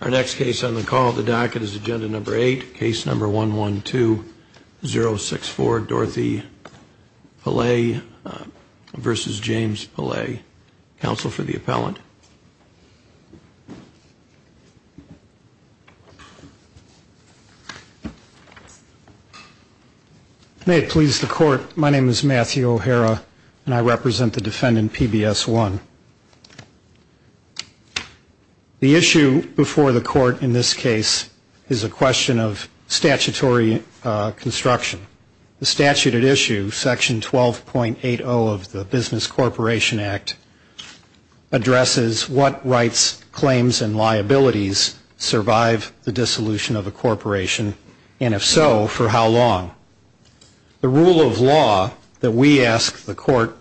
Our next case on the call at the docket is agenda number 8, case number 112064, Dorothy Pielet v. James Pielet. Counsel for the appellant. Matthew O'Hara May it please the court, my name is Matthew O'Hara and I represent the defendant PBS1. The issue before the court in this case is a question of statutory construction. The statute at issue, section 12.80 of the Business Corporation Act addresses what rights, claims and liabilities survive the dissolution of a corporation and if so, for how long. The rule of law that we ask the court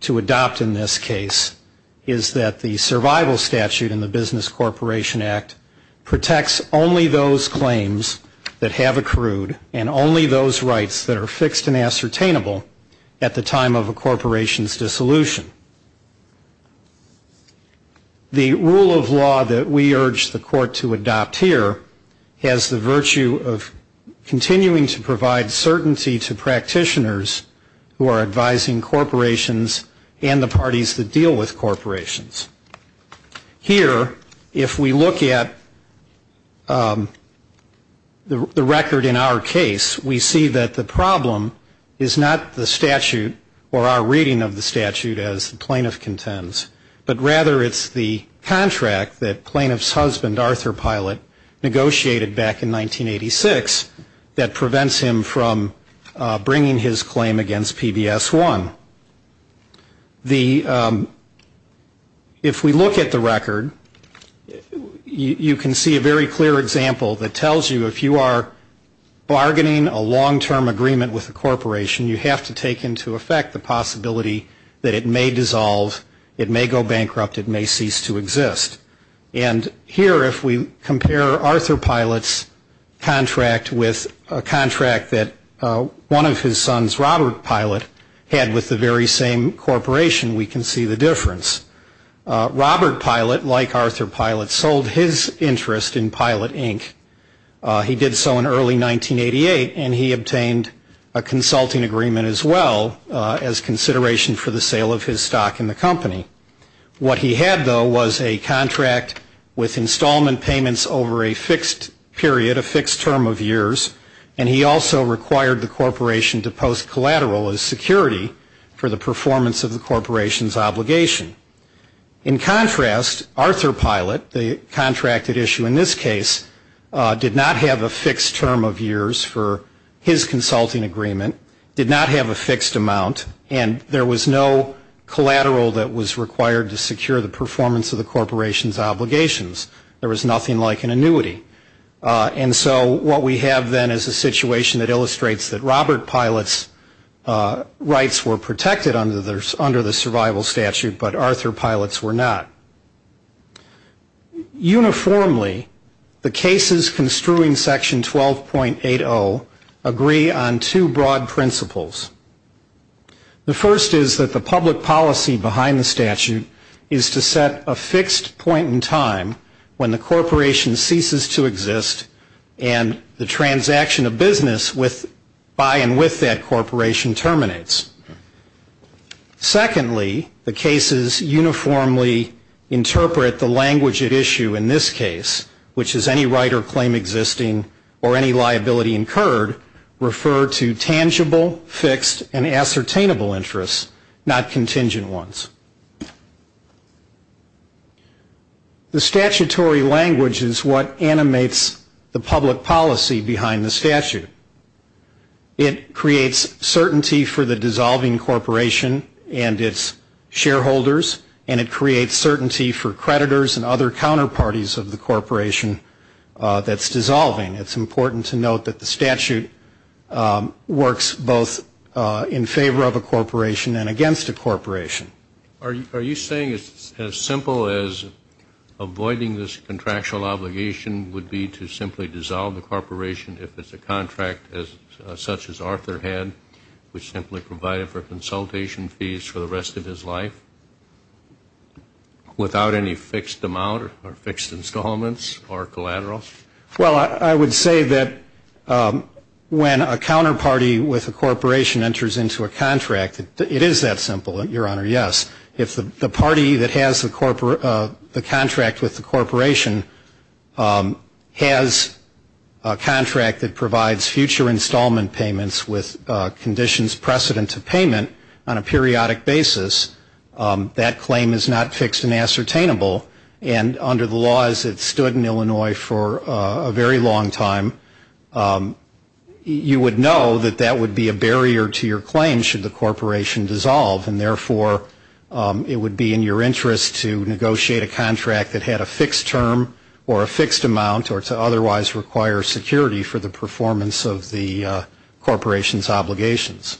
to adopt in this case is that the survival statute in the Business Corporation Act protects only those claims that have accrued and only those rights that are fixed and ascertainable at the time of a corporation's dissolution. The rule of law that we urge the court to adopt here has the virtue of continuing to provide certainty to practitioners who are advising corporations and the parties that deal with corporations. Here, if we look at the record in our case, we see that the problem is not the statute or our reading of the statute as the plaintiff contends, but rather it's the contract that plaintiff's husband, Arthur Pielet, negotiated back in 1986 that prevents him from bringing his claim against PBS1. If we look at the record, you can see a very clear example that tells you if you are bargaining a long-term agreement with a corporation, you have to take into effect the possibility that it may dissolve, it may go bankrupt, it may cease to exist. And here, if we compare Arthur Pielet's contract with a contract that one of his sons, Robert Pielet, had with the very same corporation, we can see the difference. Robert Pielet, like Arthur Pielet, sold his interest in Pielet, Inc. He did so in early 1988, and he obtained a consulting agreement as well as consideration for the sale of his stock in the company. What he had, though, was a contract with installment payments over a fixed period, a fixed term of years, and he also required the corporation to post collateral as security for the performance of the corporation's obligation. In contrast, Arthur Pielet, the contracted issue in this case, did not have a fixed term of years for his consulting agreement, did not have a fixed amount, and there was no collateral that was required to secure the performance of the corporation's obligations. There was nothing like an annuity. And so what we have then is a situation that illustrates that Robert Pielet's rights were protected under the survival statute, but Arthur Pielet's were not. Uniformly, the cases construing Section 12.80 agree on two broad principles. The first is that the public policy behind the statute is to set a fixed point in time when the corporation ceases to exist and the transaction of business by and with that corporation terminates. Secondly, the cases uniformly interpret the language at issue in this case, which is any right or claim existing or any liability incurred, refer to tangible, fixed, and ascertainable interests, not contingent ones. The statutory language is what animates the public policy behind the statute. It creates certainty for the dissolving corporation and its shareholders, and it creates certainty for creditors and other counterparties of the corporation that's dissolving. It's important to note that the statute works both in favor of a corporation and against a corporation. Are you saying it's as simple as avoiding this contractual obligation would be to simply dissolve the corporation if it's a contract such as Arthur had, which simply provided for consultation fees for the rest of his life without any fixed amount or fixed installments or collaterals? Well, I would say that when a counterparty with a corporation enters into a contract, it is that simple, Your Honor, yes. If the party that has the contract with the corporation has a contract that provides future installment payments with conditions precedent to payment on a periodic basis, that claim is not fixed and ascertainable, and under the laws that stood in Illinois for a very long time, you would know that that would be a barrier to your claim should the corporation dissolve. And therefore, it would be in your interest to negotiate a contract that had a fixed term or a fixed amount or to otherwise require security for the performance of the corporation's obligations.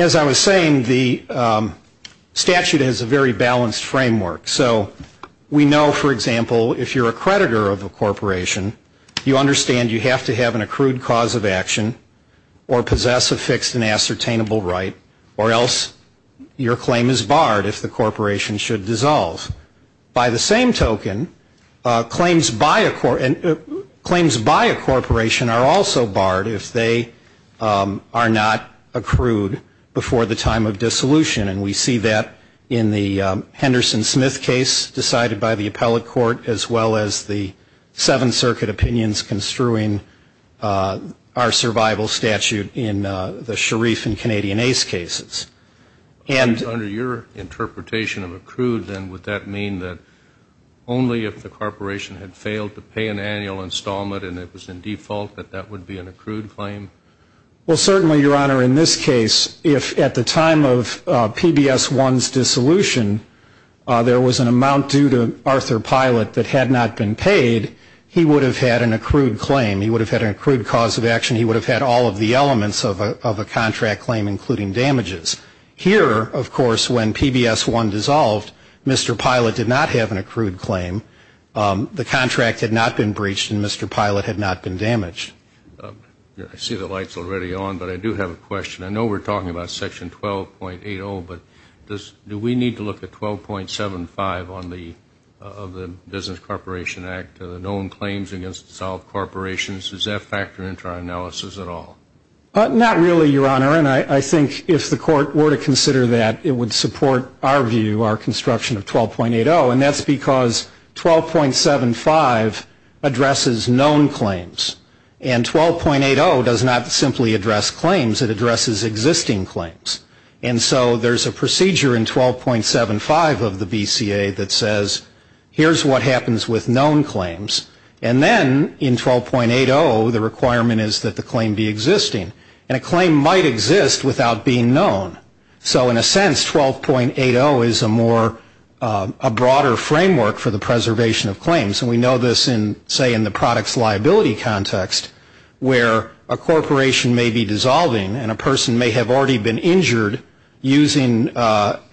As I was saying, the statute has a very balanced framework. So we know, for example, if you're a creditor of a corporation, you understand you have to have an accrued cause of action or possess a fixed and ascertainable right, or else your claim is barred if the corporation should dissolve. By the same token, claims by a corporation are also barred if they are not accrued before the time of dissolution, and we see that in the Henderson-Smith case decided by the appellate court as well as the Seventh Circuit opinions construing our survival statute in the Sharif and Canadian Ace cases. And under your interpretation of accrued, then, would that mean that only if the corporation had failed to pay an annual installment and it was in default that that would be an accrued claim? Well, certainly, Your Honor, in this case, if at the time of PBS-1's dissolution there was an amount due to Arthur Pilot that had not been paid, he would have had an accrued claim. He would have had an accrued cause of action. Here, of course, when PBS-1 dissolved, Mr. Pilot did not have an accrued claim. The contract had not been breached, and Mr. Pilot had not been damaged. I see the light's already on, but I do have a question. I know we're talking about Section 12.80, but do we need to look at 12.75 of the Business Corporation Act, known claims against dissolved corporations? Does that factor into our analysis at all? Not really, Your Honor, and I think if the court were to consider that, it would support our view, our construction of 12.80, and that's because 12.75 addresses known claims. And 12.80 does not simply address claims. It addresses existing claims. And so there's a procedure in 12.75 of the BCA that says, here's what happens with known claims. And then in 12.80, the requirement is that the claim be existing. And a claim might exist without being known. So in a sense, 12.80 is a more, a broader framework for the preservation of claims. And we know this in, say, in the products liability context, where a corporation may be dissolving, and a person may have already been injured using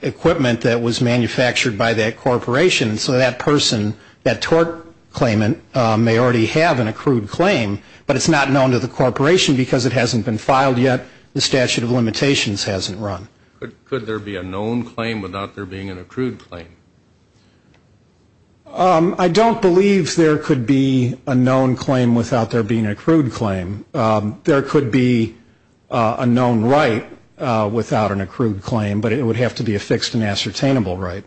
equipment that was manufactured by that corporation. And so that person, that tort claimant, may already have an accrued claim, but it's not known to the corporation because it hasn't been filed yet, the statute of limitations hasn't run. Could there be a known claim without there being an accrued claim? I don't believe there could be a known claim without there being an accrued claim. There could be a known right without an accrued claim, but it would have to be a fixed and ascertainable right.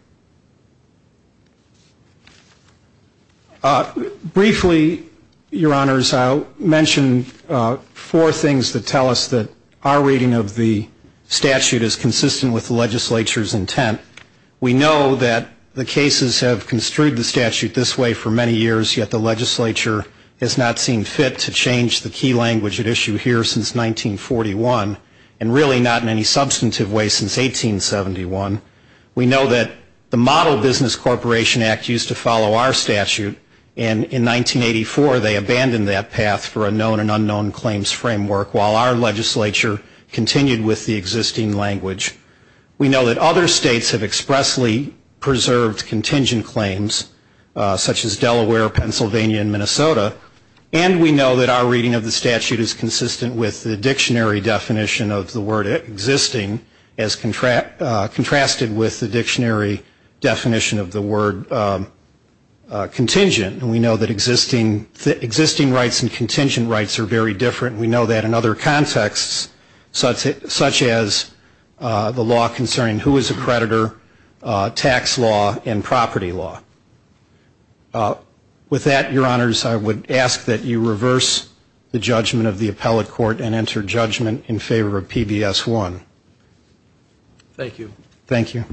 Briefly, Your Honors, I'll mention four things that tell us that our reading of the statute is consistent with the legislature's intent. We know that the cases have construed the statute this way for many years, yet the legislature has not seen fit to change the key language at issue here since 1941, and really not in any substantive way since 1871. We know that the Model Business Corporation Act used to follow our statute, and in 1984, they abandoned that path for a known and unknown claims framework, while our legislature continued with the existing language. We know that other states have expressly preserved contingent claims, such as Delaware, Pennsylvania, and Minnesota. And we know that our reading of the statute is consistent with the dictionary definition of the word existing, as contracting the word existing. And we know that existing rights and contingent rights are very different. We know that in other contexts, such as the law concerning who is a creditor, tax law, and property law. With that, Your Honors, I would ask that you reverse the judgment of the appellate court and enter judgment in favor of PBS 1. Thank you.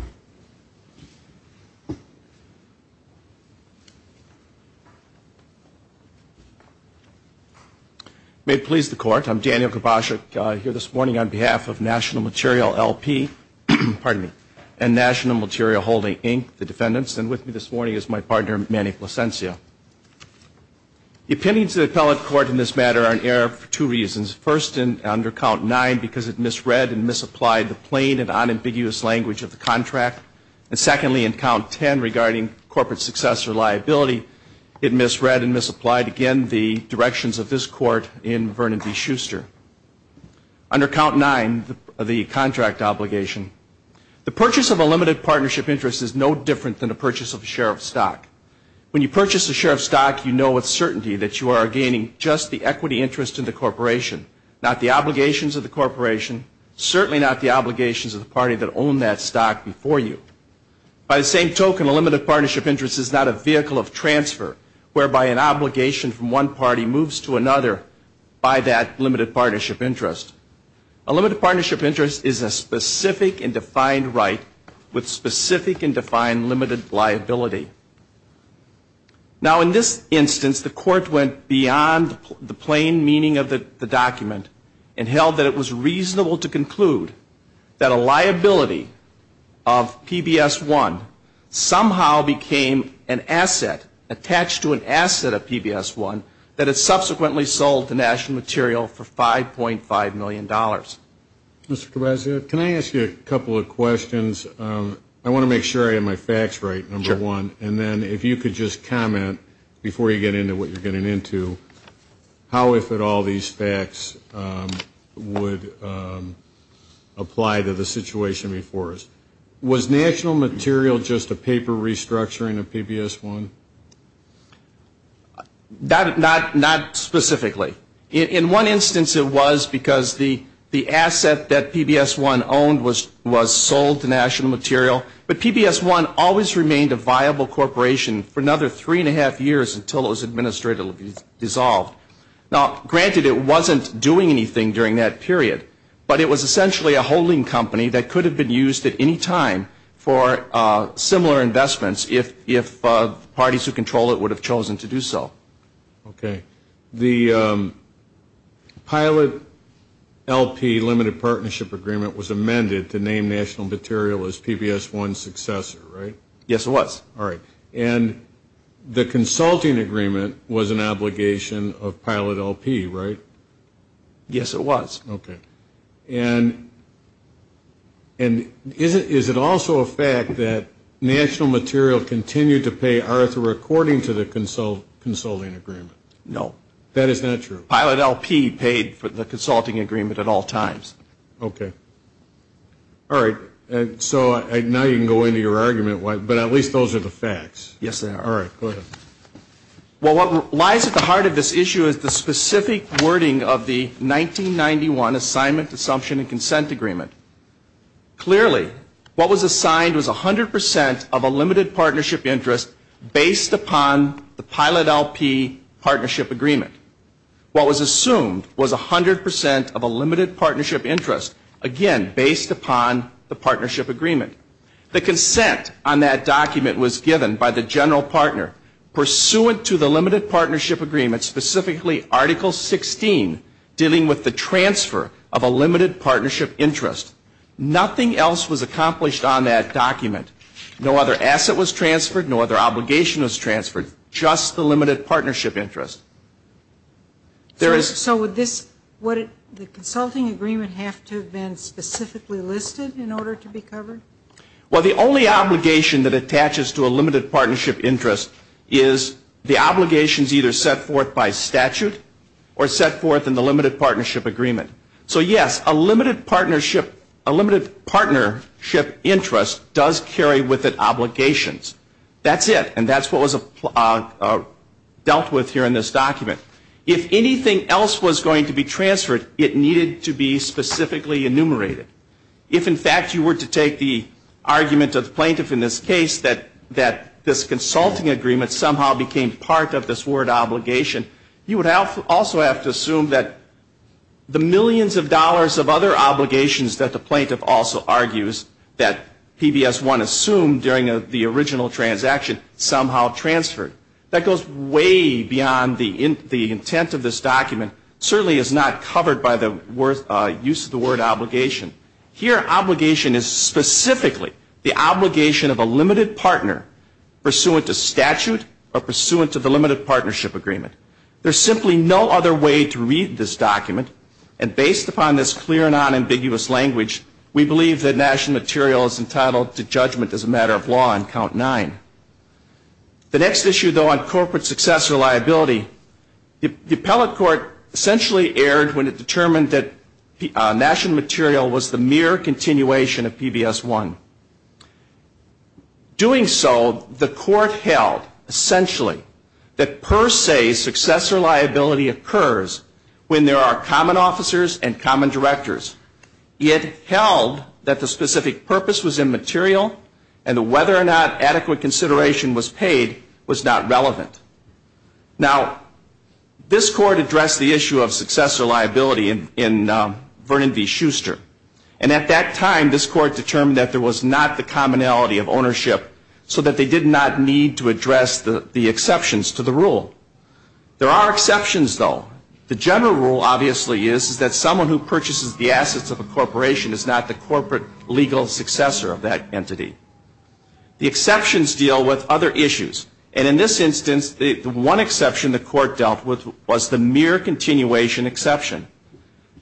May it please the Court, I'm Daniel Grabaschuk, here this morning on behalf of National Material, L.P. and National Material Holding, Inc., the defendants, and with me this morning is my partner, Manny Plasencia. The opinions of the appellate court in this matter are in error for two reasons. One, it misapplied the plain and unambiguous language of the contract. And secondly, in count 10 regarding corporate success or liability, it misread and misapplied again the directions of this court in Vernon v. Schuster. Under count 9, the contract obligation, the purchase of a limited partnership interest is no different than the purchase of a share of stock. When you purchase a share of stock, you know with certainty that you are gaining just the equity interest of the corporation, not the obligations of the corporation, certainly not the obligations of the party that owned that stock before you. By the same token, a limited partnership interest is not a vehicle of transfer, whereby an obligation from one party moves to another by that limited partnership interest. A limited partnership interest is a specific and defined right with specific and defined limited liability. Now, in this instance, the court went beyond the plain meaning of the document and held that it was reasonable to conclude that a liability of PBS-1 somehow became an asset, attached to an asset of PBS-1, that it subsequently sold to National Material for $5.5 million. Can I ask you a couple of questions? I want to make sure I have my facts right, number one, and then if you could just comment before you get into what you're getting into, how if at all these facts would apply to the situation before us. Was National Material just a paper restructuring of PBS-1? Not specifically. In one instance, it was because the asset that PBS-1 owned was sold to National Material, but PBS-1 always remained a viable corporation for another three and a half years until it was administratively dissolved. Now, granted, it wasn't doing anything during that period, but it was essentially a holding company that could have been used at any time for similar investments if parties who control it would have chosen to do so. Okay. The pilot LP limited partnership agreement was amended to name National Material as PBS-1's successor, right? All right. And the consulting agreement was an obligation of pilot LP, right? Yes, it was. Okay. And is it also a fact that National Material continued to pay Arthur according to the consulting agreement? No. That is not true. Pilot LP paid for the consulting agreement at all times. Okay. All right. So now you can go into your argument, but at least those are the facts. Well, what lies at the heart of this issue is the specific wording of the 1991 Assignment, Assumption, and Consent Agreement. Clearly, what was assigned was 100 percent of a limited partnership interest based upon the pilot LP partnership agreement. What was assumed was 100 percent of a limited partnership interest, again, based upon the partnership agreement. The consent on that document was given by the general partner pursuant to the limited partnership agreement, specifically Article 16, dealing with the transfer of a limited partnership interest. Nothing else was accomplished on that document. No other asset was transferred, no other obligation was transferred, just the limited partnership interest. So would the consulting agreement have to have been specifically listed in order to be covered? Well, the only obligation that attaches to a limited partnership interest is the obligations either set forth by statute or set forth in the limited partnership agreement. So, yes, a limited partnership interest does carry with it obligations. That's it, and that's what was dealt with here in this document. If anything else was going to be transferred, it needed to be specifically enumerated. If, in fact, you were to take the argument of the plaintiff in this case that this consulting agreement somehow became part of this word obligation, you would also have to assume that the millions of dollars of other obligations that the plaintiff also argues that PBS 1 assumed during the original transaction somehow transferred. That goes way beyond the intent of this document. It certainly is not covered by the use of the word obligation. Here, obligation is specifically the obligation of a limited partner pursuant to statute or pursuant to the limited partnership agreement. There's simply no other way to read this document, and based upon this clear, nonambiguous language, we believe that national material is entitled to judgment as a matter of law on Count 9. The next issue, though, on corporate success or liability, the appellate court essentially erred when it determined that national material was the mere continuation of PBS 1. Doing so, the court held, essentially, that per se success or liability occurs when there are common officers and common directors. It held that the specific purpose was immaterial, and whether or not adequate consideration was paid was not relevant. Now, this court addressed the issue of success or liability in Vernon v. Schuster, and at that time this court determined that there was not the commonality of ownership so that they did not need to address the exceptions to the rule. There are exceptions, though. The general rule, obviously, is that someone who purchases the assets of a corporation is not the corporate legal successor of that entity. The exceptions deal with other issues, and in this instance, the one exception the court dealt with was the mere continuation exception.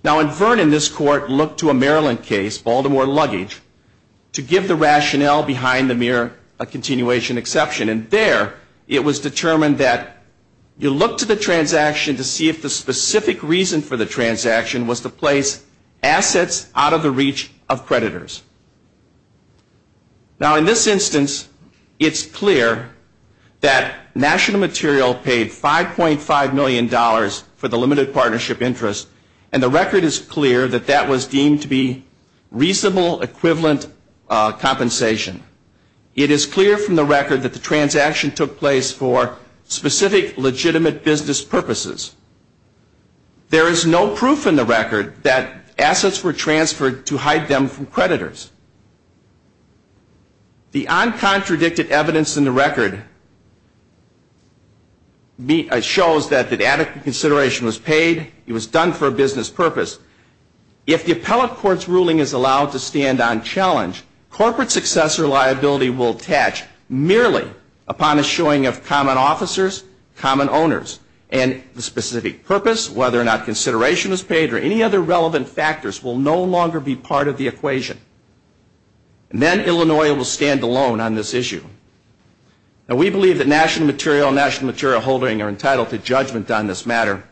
Now, in Vernon, this court looked to a Maryland case, Baltimore Luggage, to give the rationale behind the mere continuation exception, and there it was determined that you look to the transaction to see if the specific reason for the transaction was to place assets out of the reach of creditors. Now, in this instance, it's clear that national material paid $5.5 million for the limited partnership interest, and the record is clear that that was deemed to be reasonable equivalent compensation. It is clear from the record that the transaction took place for specific legitimate business purposes. There is no proof in the record that assets were transferred to hide them from creditors. The uncontradicted evidence in the record shows that adequate consideration was paid. It was done for a business purpose. If the appellate court's ruling is allowed to stand on challenge, corporate successor liability will attach merely upon a showing of common officers, common owners, and the specific purpose, whether or not consideration was paid or any other relevant factors will no longer be part of the equation, and then Illinois will stand alone on this issue. Now, we believe that national material and national material holding are entitled to judgment on this matter,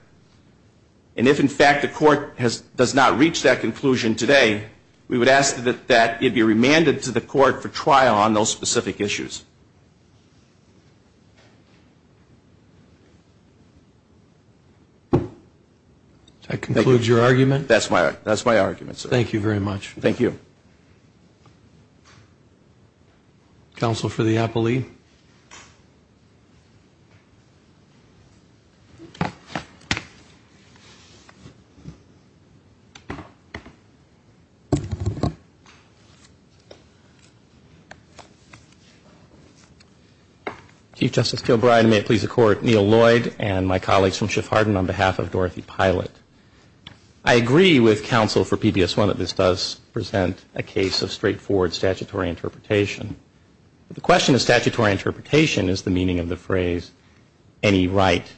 and if, in fact, the court does not reach that conclusion today, we would ask that it be remanded to the court for trial on those specific issues. Is that your argument? That's my argument, sir. Thank you very much. Thank you. Counsel for the appellee. I agree with counsel for PBS1 that this does present a case of straightforward statutory interpretation. The question of statutory interpretation is the meaning of the phrase, any right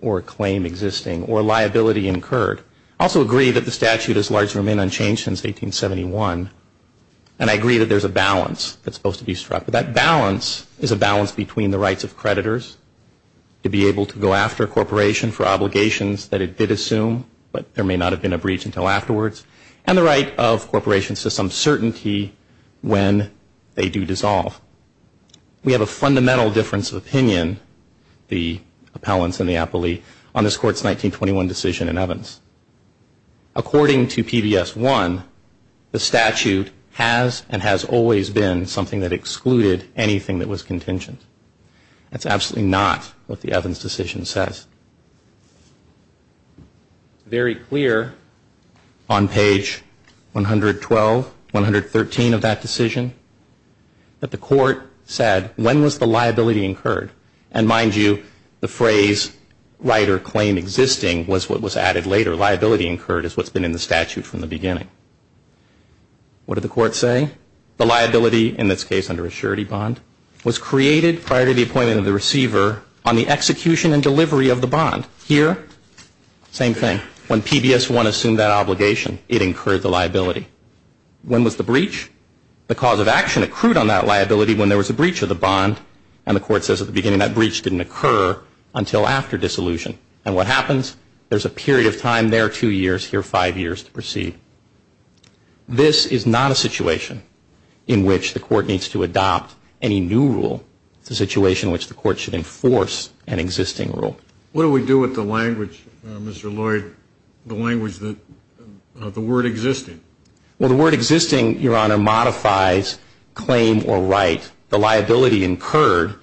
or claim existing or liability incurred. I also agree that the statute has largely remained unchanged since 1871, and I agree that there's a balance that's supposed to be struck. That balance is a balance between the rights of creditors to be able to go after a corporation for obligations that it did assume, but there may not have been a breach until afterwards, and the right of corporations to some certainty when they do dissolve. We have a fundamental difference of opinion, the appellants and the appellee, and we have a balance. According to PBS1, the statute has and has always been something that excluded anything that was contingent. That's absolutely not what the Evans decision says. Very clear on page 112, 113 of that decision, that the court said when was the liability incurred, and mind you, the phrase right or claim existing was what was added later. Liability incurred is what's been in the statute from the beginning. What did the court say? The liability in this case under a surety bond was created prior to the appointment of the receiver on the execution and delivery of the bond. Here, same thing. When PBS1 assumed that obligation, it incurred the liability. When was the breach? The cause of action accrued on that liability when there was a breach of the bond, and the court says at the beginning that breach didn't occur until after dissolution, and what happens, there's a period of time there, two years, here five years to proceed. This is not a situation in which the court needs to adopt any new rule. It's a situation in which the court should enforce an existing rule. What do we do with the language, Mr. Lloyd, the language that, the word existing? Well, the word existing, Your Honor, modifies claim or right. The liability incurred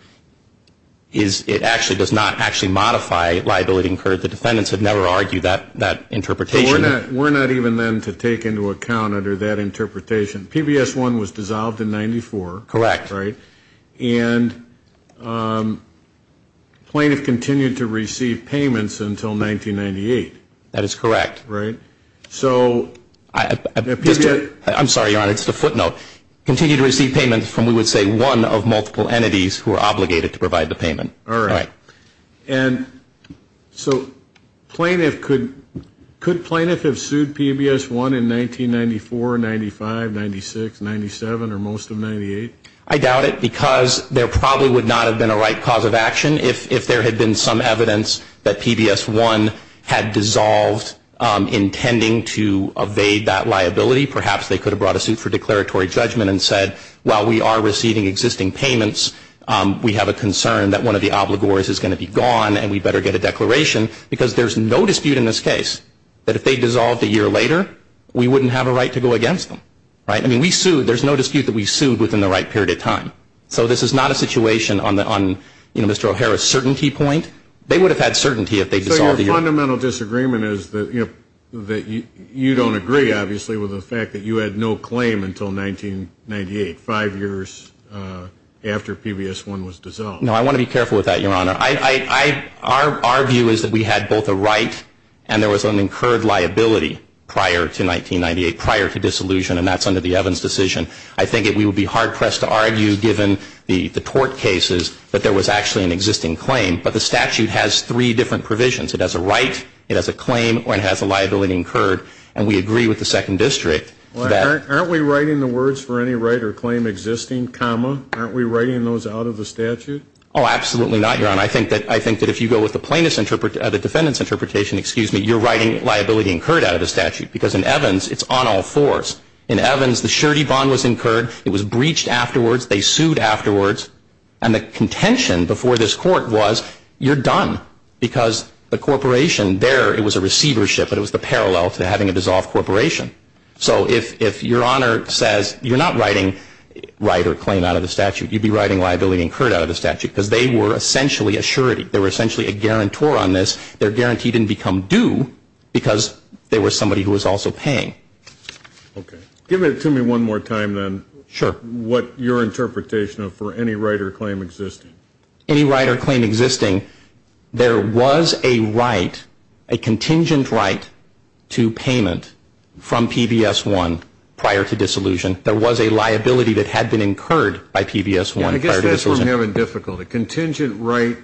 is, it actually does not actually modify liability incurred. The defendants have never argued that interpretation. We're not even then to take into account under that interpretation. PBS1 was dissolved in 94. Correct. And plaintiff continued to receive payments until 1998. That is correct. I'm sorry, Your Honor, just a footnote. Continued to receive payments from, we would say, one of multiple entities who are obligated to provide the payment. All right. And so plaintiff, could plaintiff have sued PBS1 in 1994, 95, 96, 97, or most of 98? I doubt it, because there probably would not have been a right cause of action if there had been some evidence that PBS1 had dissolved intending to evade that liability. Perhaps they could have brought a suit for declaratory judgment and said, while we are receiving existing payments, we have a concern that one of the obligors is going to be gone and we better get a declaration, because there's no dispute in this case that if they dissolved a year later, we wouldn't have a right to go against them. Right? I mean, we sued. There's no dispute that we sued within the right period of time. So this is not a situation on Mr. O'Hara's certainty point. They would have had certainty if they dissolved a year later. So your fundamental disagreement is that you don't agree, obviously, with the fact that you had no claim until 1998, five years after PBS1 was dissolved. No, I want to be careful with that, Your Honor. Our view is that we had both a right and there was an incurred liability prior to 1998, prior to disillusion, and that's under the Evans decision. I think we would be hard-pressed to argue, given the tort cases, that there was actually an existing claim. But the statute has three different provisions. It has a right, it has a claim, or it has a liability incurred. And we agree with the Second District. Aren't we writing the words for any right or claim existing, comma? Aren't we writing those out of the statute? Oh, absolutely not, Your Honor. I think that if you go with the defendant's interpretation, you're writing liability incurred out of the statute. Because in Evans, it's on all fours. In Evans, the surety bond was incurred, it was breached afterwards, they sued afterwards, and the contention before this court was, you're done. Because the corporation there, it was a receivership, but it was the parallel to having a dissolved corporation. So if Your Honor says, you're not writing right or claim out of the statute, you'd be writing liability incurred out of the statute. Because they were essentially a surety. They were essentially a guarantor on this. They're guaranteed didn't become due because they were somebody who was also paying. Okay. Give it to me one more time, then, what your interpretation of for any right or claim existing. Any right or claim existing, there was a right, a contingent right to payment from PBS-1 prior to dissolution. There was a liability that had been incurred by PBS-1 prior to dissolution. I guess that's where we have a difficulty. Contingent right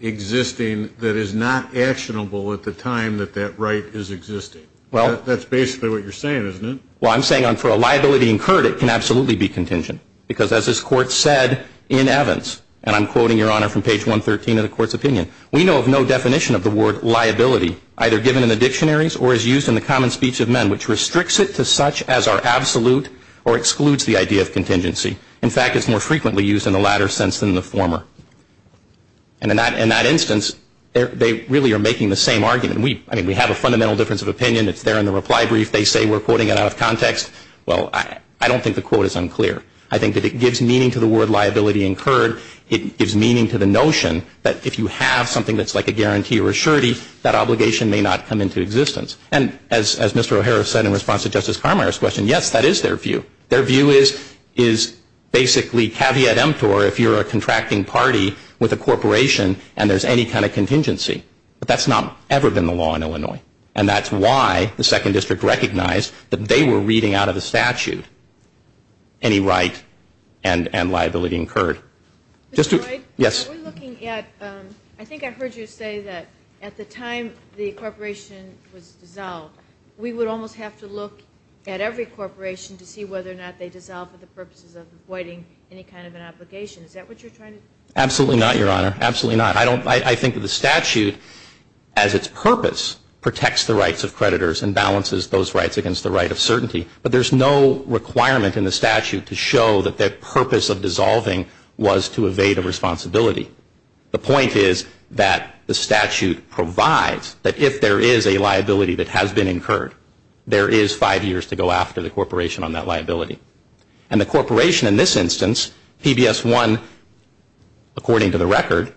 existing that is not actionable at the time that that right is existing. That's basically what you're saying, isn't it? Well, I'm saying for a liability incurred, it can absolutely be contingent. Because as this Court said in Evans, and I'm quoting, Your Honor, from page 113 of the Court's opinion, we know of no definition of the word liability either given in the dictionaries or as used in the common speech of men which restricts it to such as are absolute or excludes the idea of contingency. In fact, it's more frequently used in the latter sense than the former. And in that instance, they really are making the same argument. I mean, we have a fundamental difference of opinion that's there in the reply brief. They say we're quoting it out of context. Well, I don't think the quote is unclear. I think that it gives meaning to the word liability incurred. It gives meaning to the notion that if you have something that's like a guarantee or a surety, that obligation may not come into existence. And as Mr. O'Hara said in response to Justice Carminer's question, yes, that is their view. Their view is basically caveat emptor if you're a contracting party with a corporation and there's any kind of contingency. But that's not ever been the law in Illinois. And that's why the Second District recognized that they were reading out of the statute any right and liability incurred. Yes? I think I heard you say that at the time the corporation was dissolved, we would almost have to look at every corporation to see whether or not they dissolved for the purposes of avoiding any kind of an obligation. Is that what you're trying to do? Absolutely not, Your Honor. Absolutely not. I think the statute as its purpose protects the rights of creditors and balances those rights against the right of certainty. But there's no requirement in the statute to show that their purpose of dissolving was to evade a responsibility. The point is that the statute provides that if there is a liability that has been incurred, there is five years to go after the corporation on that liability. And the corporation in this instance, PBS1, according to the record,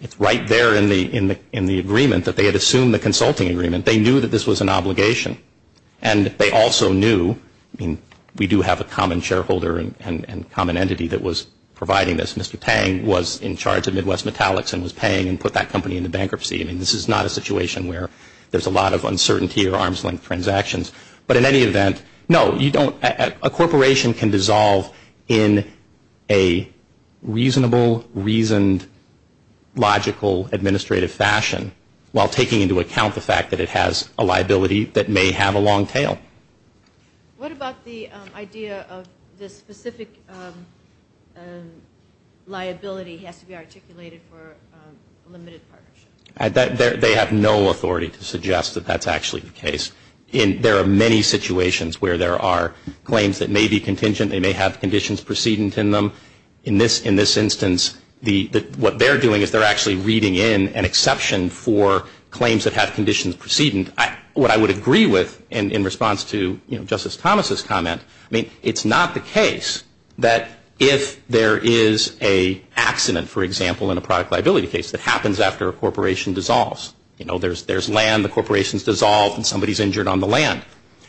it's right there in the agreement that they had assumed the consulting agreement. They knew that this was an obligation. And they also knew, I mean, we do have a common shareholder and common entity that was providing this. Mr. Pang was in charge of Midwest Metallics and was paying and put that company into bankruptcy. I mean, this is not a situation where there's a lot of uncertainty or arm's length transactions. But in any event, no, you don't. A corporation can dissolve in a reasonable, reasoned, logical, administrative fashion while taking into account the fact that it has a liability that may have a long tail. What about the idea of the specific liability has to be articulated for a limited partnership? They have no authority to suggest that that's actually the case. There are many situations where there are claims that may be contingent. They may have conditions precedent in them. In this instance, what they're doing is they're actually reading in an exception for claims that have conditions precedent. What I would agree with in response to Justice Thomas's comment, I mean, it's not the case that if there is an accident, for example, in a product liability case that happens after a corporation dissolves. You know, there's land, the corporation's dissolved, and somebody's injured on the land.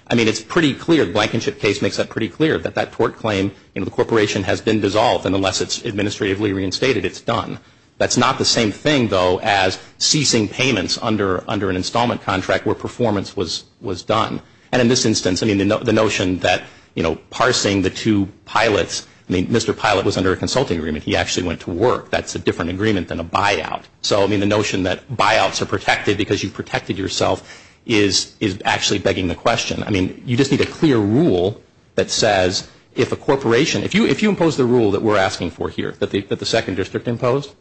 I mean, it's pretty clear. The Blankenship case makes that pretty clear, that that tort claim, you know, the corporation has been dissolved, and unless it's administratively reinstated, it's done. That's not the same thing, though, as ceasing payments under an installment contract where performance was done. And in this instance, I mean, the notion that, you know, parsing the two pilots. I mean, Mr. Pilot was under a consulting agreement. He actually went to work. That's a different agreement than a buyout. So, I mean, the notion that buyouts are protected because you protected yourself is actually begging the question. I mean, you just need a clear rule that says if a corporation, if you impose the rule that we're asking for here, that the Second District imposed,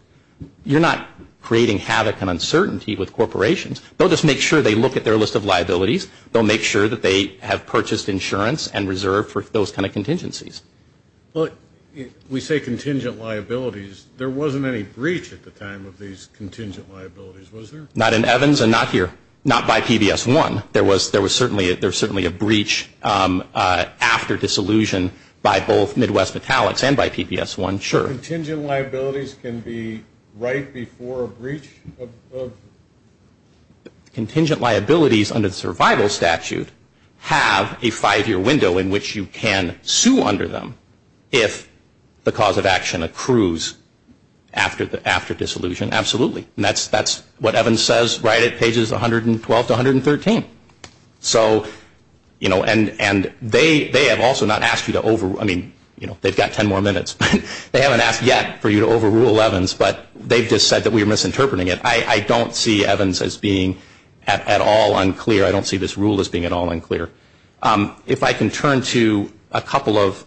you're not creating havoc and uncertainty with corporations. They'll just make sure they look at their list of liabilities. They'll make sure that they have purchased insurance and reserve for those kind of contingencies. Well, we say contingent liabilities. There wasn't any breach at the time of these contingent liabilities, was there? Not in Evans and not here. Not by PBS-1. There was certainly a breach after disillusion by both Midwest Metallics and by PBS-1, sure. Contingent liabilities can be right before a breach of? Contingent liabilities under the survival statute have a five-year window in which you can sue under them if the cause of action accrues after disillusion. Absolutely. And that's what Evans says right at pages 112 to 113. So, you know, and they have also not asked you to overrule. I mean, you know, they've got ten more minutes. They haven't asked yet for you to overrule Evans, but they've just said that we're misinterpreting it. I don't see Evans as being at all unclear. I don't see this rule as being at all unclear. If I can turn to a couple of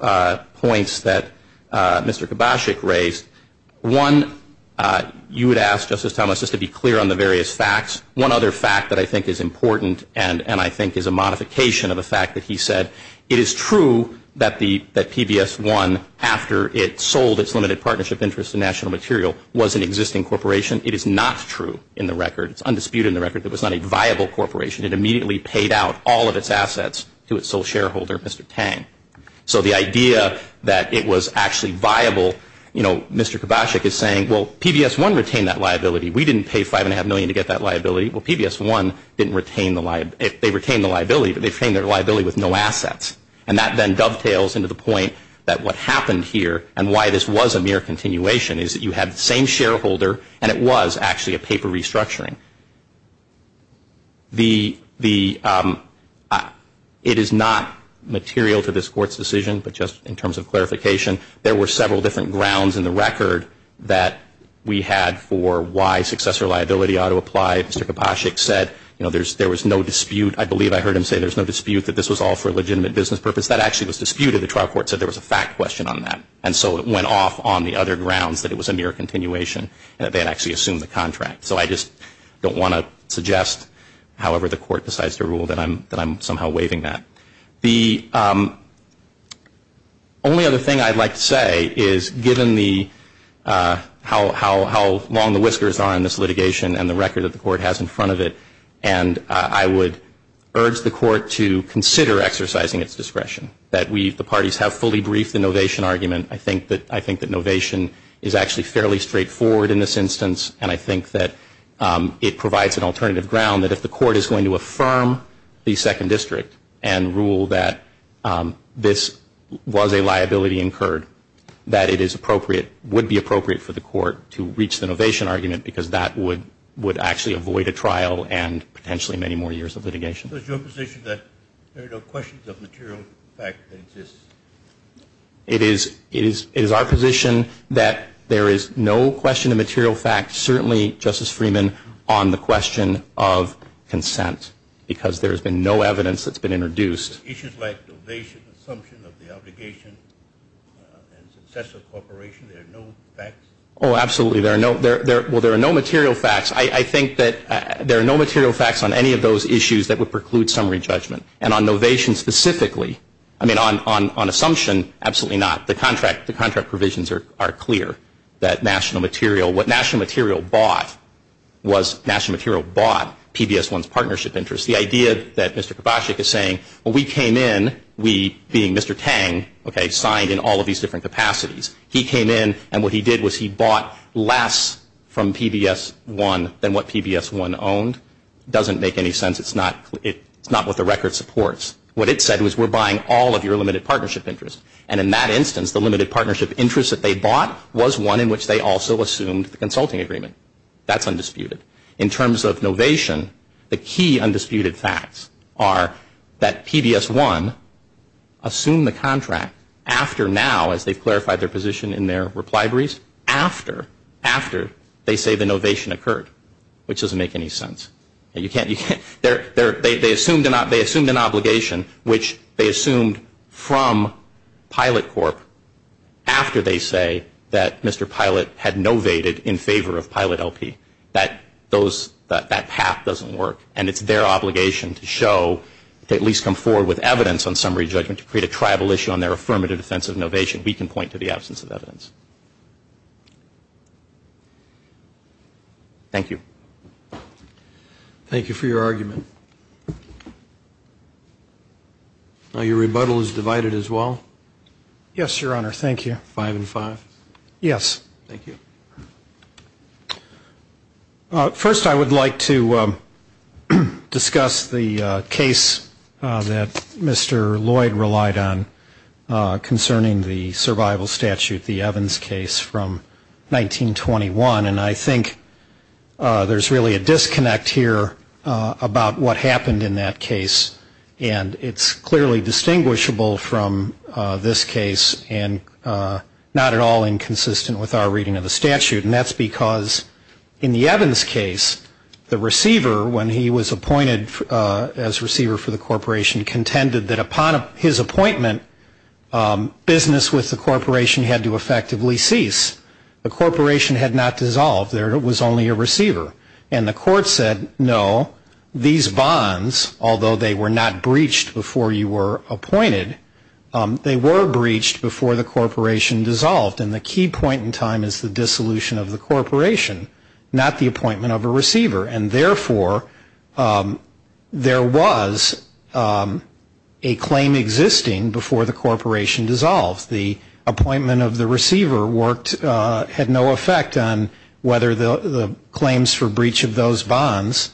points that Mr. Kobachek raised. One, you would ask, Justice Thomas, just to be clear on the various facts. One other fact that I think is important and I think is a modification of a fact that he said, it is true that PBS-1, after it sold its limited partnership interest in national material, was an existing corporation. It is not true in the record. It's undisputed in the record that it was not a viable corporation. It immediately paid out all of its assets to its sole shareholder, Mr. Tang. So the idea that it was actually viable, you know, Mr. Kobachek is saying, well, PBS-1 retained that liability. We didn't pay $5.5 million to get that liability. Well, PBS-1 didn't retain the liability. They retained the liability, but they retained their liability with no assets. And that then dovetails into the point that what happened here and why this was a mere continuation is that you had the same shareholder, and it was actually a paper restructuring. It is not material to this Court's decision, but just in terms of clarification, there were several different grounds in the record that we had for why successor liability ought to apply. Mr. Kobachek said, you know, there was no dispute. I believe I heard him say there was no dispute that this was all for a legitimate business purpose. That actually was disputed. The trial court said there was a fact question on that, and so it went off on the other grounds that it was a mere continuation, and that they had actually assumed the contract. So I just don't want to suggest, however the Court decides to rule, that I'm somehow waiving that. The only other thing I'd like to say is, given how long the whiskers are on this litigation and the record that the Court has in front of it, and I would urge the Court to consider exercising its discretion, that we, the parties, have fully briefed the novation argument. I think that novation is actually fairly straightforward in this instance, and I think that it provides an alternative ground that if the Court is going to affirm the Second District and rule that this was a liability incurred, that it is appropriate, would be appropriate for the Court to reach the novation argument, because that would actually avoid a trial and potentially many more years of litigation. Is your position that there are no questions of material fact that exist? It is our position that there is no question of material fact, certainly, Justice Freeman, on the question of consent, because there has been no evidence that's been introduced. Issues like novation, assumption of the obligation, and success of cooperation, there are no facts? Oh, absolutely. Well, there are no material facts. I think that there are no material facts on any of those issues that would preclude summary judgment. And on novation specifically, I mean, on assumption, absolutely not. The contract provisions are clear that national material, what national material bought was national material bought PBS1's partnership interest. The idea that Mr. Kobachek is saying, well, we came in, we, being Mr. Tang, okay, signed in all of these different capacities. He came in, and what he did was he bought less from PBS1 than what PBS1 owned. It doesn't make any sense. It's not what the record supports. What it said was we're buying all of your limited partnership interest. And in that instance, the limited partnership interest that they bought was one in which they also assumed the consulting agreement. That's undisputed. In terms of novation, the key undisputed facts are that PBS1 assumed the contract after now, as they've clarified their position in their reply briefs, after they say the novation occurred, which doesn't make any sense. They assumed an obligation which they assumed from Pilot Corp. after they say that Mr. Pilot had novated in favor of Pilot LP. That path doesn't work. And it's their obligation to show, to at least come forward with evidence on summary judgment to create a tribal issue on their affirmative defense of novation. We can point to the absence of evidence. Thank you. Thank you for your argument. Your rebuttal is divided as well? Yes, Your Honor. Thank you. Five and five? Yes. Thank you. First, I would like to discuss the case that Mr. Lloyd relied on concerning the survival statute, the Evans case from 1921. And I think there's really a disconnect here about what happened in that case. And it's clearly distinguishable from this case and not at all inconsistent with our reading of the statute. And that's because in the Evans case, the receiver, when he was appointed as receiver for the corporation, contended that upon his appointment, business with the corporation had to effectively cease. The corporation had not dissolved. There was only a receiver. And the court said, no, these bonds, although they were not breached before you were appointed, they were breached before the corporation dissolved. And the key point in time is the dissolution of the corporation, not the appointment of a receiver. And, therefore, there was a claim existing before the corporation dissolved. The appointment of the receiver had no effect on whether the claims for breach of those bonds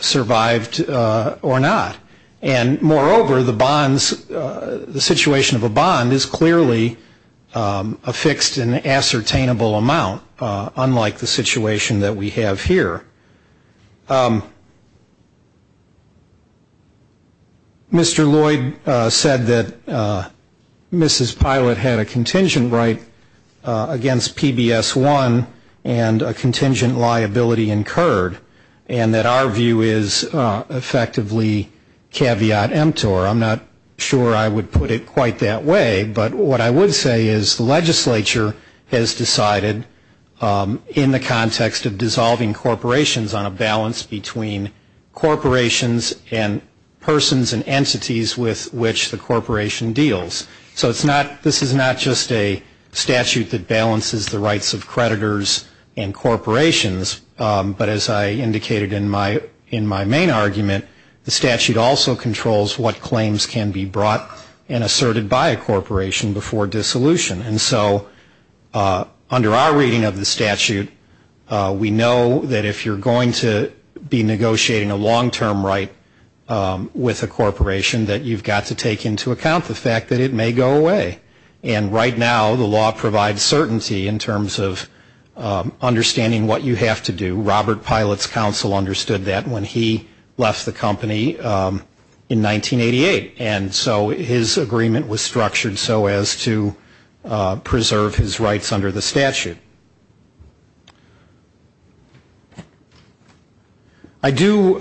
survived or not. And, moreover, the situation of a bond is clearly affixed in an ascertainable amount, unlike the situation that we have here. Mr. Lloyd said that Mrs. Pilot had a contingent right against PBS-1 and a contingent liability incurred and that our view is effectively caveat emptor. I'm not sure I would put it quite that way. But what I would say is the legislature has decided in the context of dissolving corporations on a balance between corporations and persons and entities with which the corporation deals. So this is not just a statute that balances the rights of creditors and corporations. But, as I indicated in my main argument, the statute also controls what claims can be brought and asserted by a corporation before dissolution. And so under our reading of the statute, we know that if you're going to be negotiating a long-term right with a corporation, that you've got to take into account the fact that it may go away. And right now the law provides certainty in terms of understanding what you have to do. Robert Pilot's counsel understood that when he left the company in 1988. And so his agreement was structured so as to preserve his rights under the statute. I do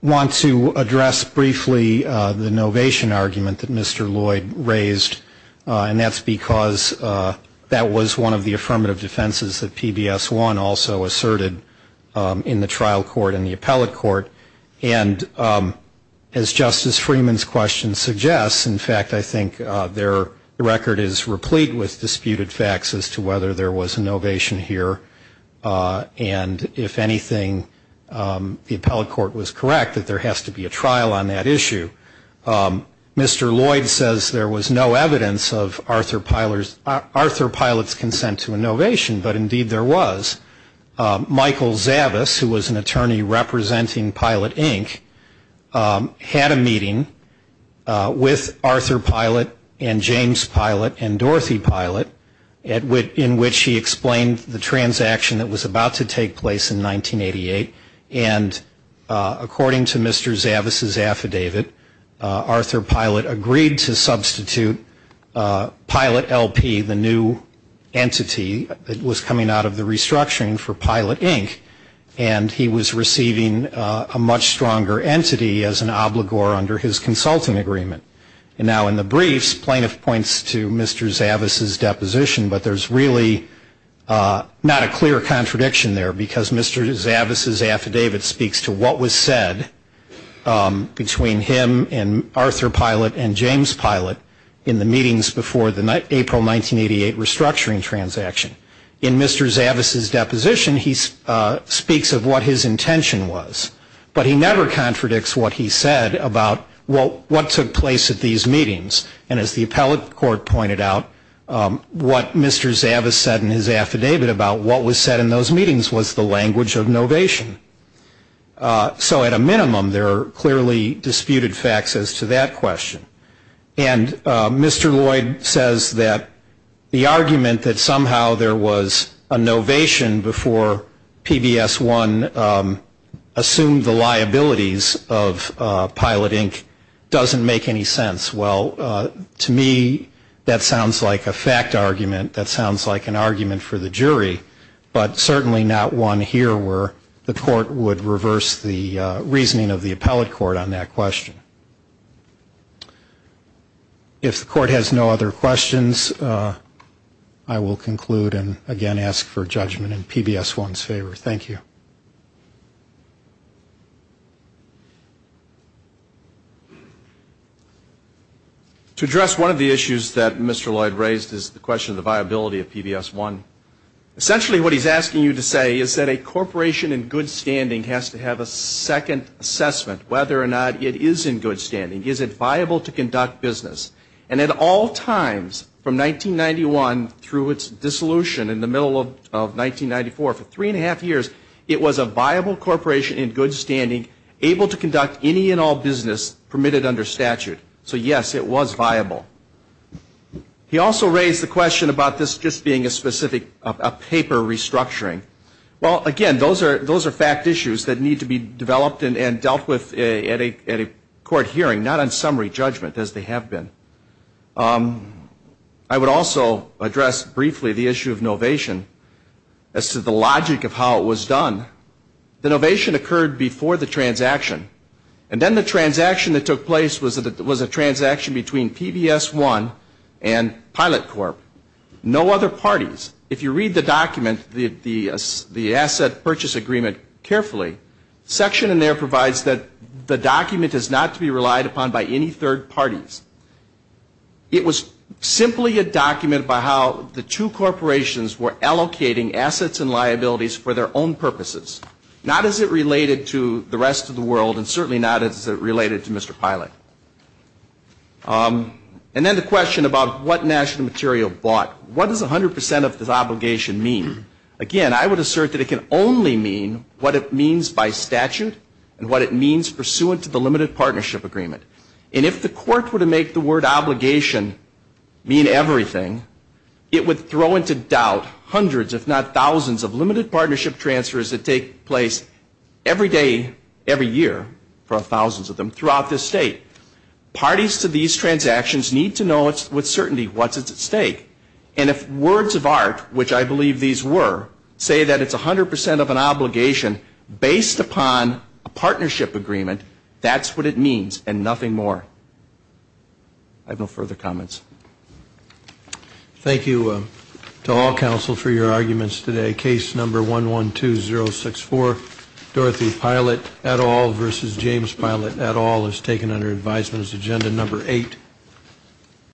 want to address briefly the novation argument that Mr. Lloyd raised. And that's because that was one of the affirmative defenses that PBS1 also asserted in the trial court and the appellate court. And as Justice Freeman's question suggests, in fact, I think their record is replete with disputed facts as to whether there was a novation here. And if anything, the appellate court was correct that there has to be a trial on that issue. Mr. Lloyd says there was no evidence of Arthur Pilot's consent to a novation, but indeed there was. Michael Zavis, who was an attorney representing Pilot, Inc., had a meeting with Arthur Pilot and James Pilot and Dorothy Pilot in which he explained the transaction that was about to take place in 1988. And according to Mr. Zavis' affidavit, Arthur Pilot agreed to substitute Pilot LP, the new entity, that was coming out of the restructuring for Pilot, Inc., and he was receiving a much stronger entity as an obligor under his consulting agreement. And now in the briefs, plaintiff points to Mr. Zavis' deposition, but there's really not a clear contradiction there because Mr. Zavis' affidavit speaks to what was said between him and Arthur Pilot and James Pilot in the meetings before the April 1988 restructuring transaction. In Mr. Zavis' deposition, he speaks of what his intention was, but he never contradicts what he said about what took place at these meetings. And as the appellate court pointed out, what Mr. Zavis said in his affidavit about what was said in those meetings was the language of novation. So at a minimum, there are clearly disputed facts as to that question. And Mr. Lloyd says that the argument that somehow there was a novation before PBS1 assumed the liabilities of Pilot, Inc. doesn't make any sense. Well, to me, that sounds like a fact argument, that sounds like an argument for the jury, but certainly not one here where the court would reverse the reasoning of the appellate court on that question. If the court has no other questions, I will conclude and again ask for judgment in PBS1's favor. Thank you. To address one of the issues that Mr. Lloyd raised is the question of the viability of PBS1. Essentially what he's asking you to say is that a corporation in good standing has to have a second assessment, whether or not it is in good standing. Is it viable to conduct business? And at all times, from 1991 through its dissolution in the middle of 1994, for three and a half years, it was a viable corporation in good standing, able to conduct any and all business permitted under statute. So yes, it was viable. He also raised the question about this just being a specific paper restructuring. Well, again, those are fact issues that need to be developed and dealt with at a court hearing, not on summary judgment as they have been. I would also address briefly the issue of novation as to the logic of how it was done. The novation occurred before the transaction. And then the transaction that took place was a transaction between PBS1 and Pilot Corp. No other parties. If you read the document, the asset purchase agreement carefully, the section in there provides that the document is not to be relied upon by any third parties. It was simply a document by how the two corporations were allocating assets and liabilities for their own purposes, not as it related to the rest of the world and certainly not as it related to Mr. Pilot. And then the question about what national material bought. What does 100 percent of this obligation mean? Again, I would assert that it can only mean what it means by statute and what it means pursuant to the limited partnership agreement. And if the court were to make the word obligation mean everything, it would throw into doubt hundreds if not thousands of limited partnership transfers that take place every day, every year for thousands of them throughout this state. Parties to these transactions need to know with certainty what's at stake. And if words of art, which I believe these were, say that it's 100 percent of an obligation based upon a partnership agreement, that's what it means and nothing more. I have no further comments. Thank you to all counsel for your arguments today. Case number 112064, Dorothy Pilot et al. versus James Pilot et al. is taken under advisement as agenda number eight.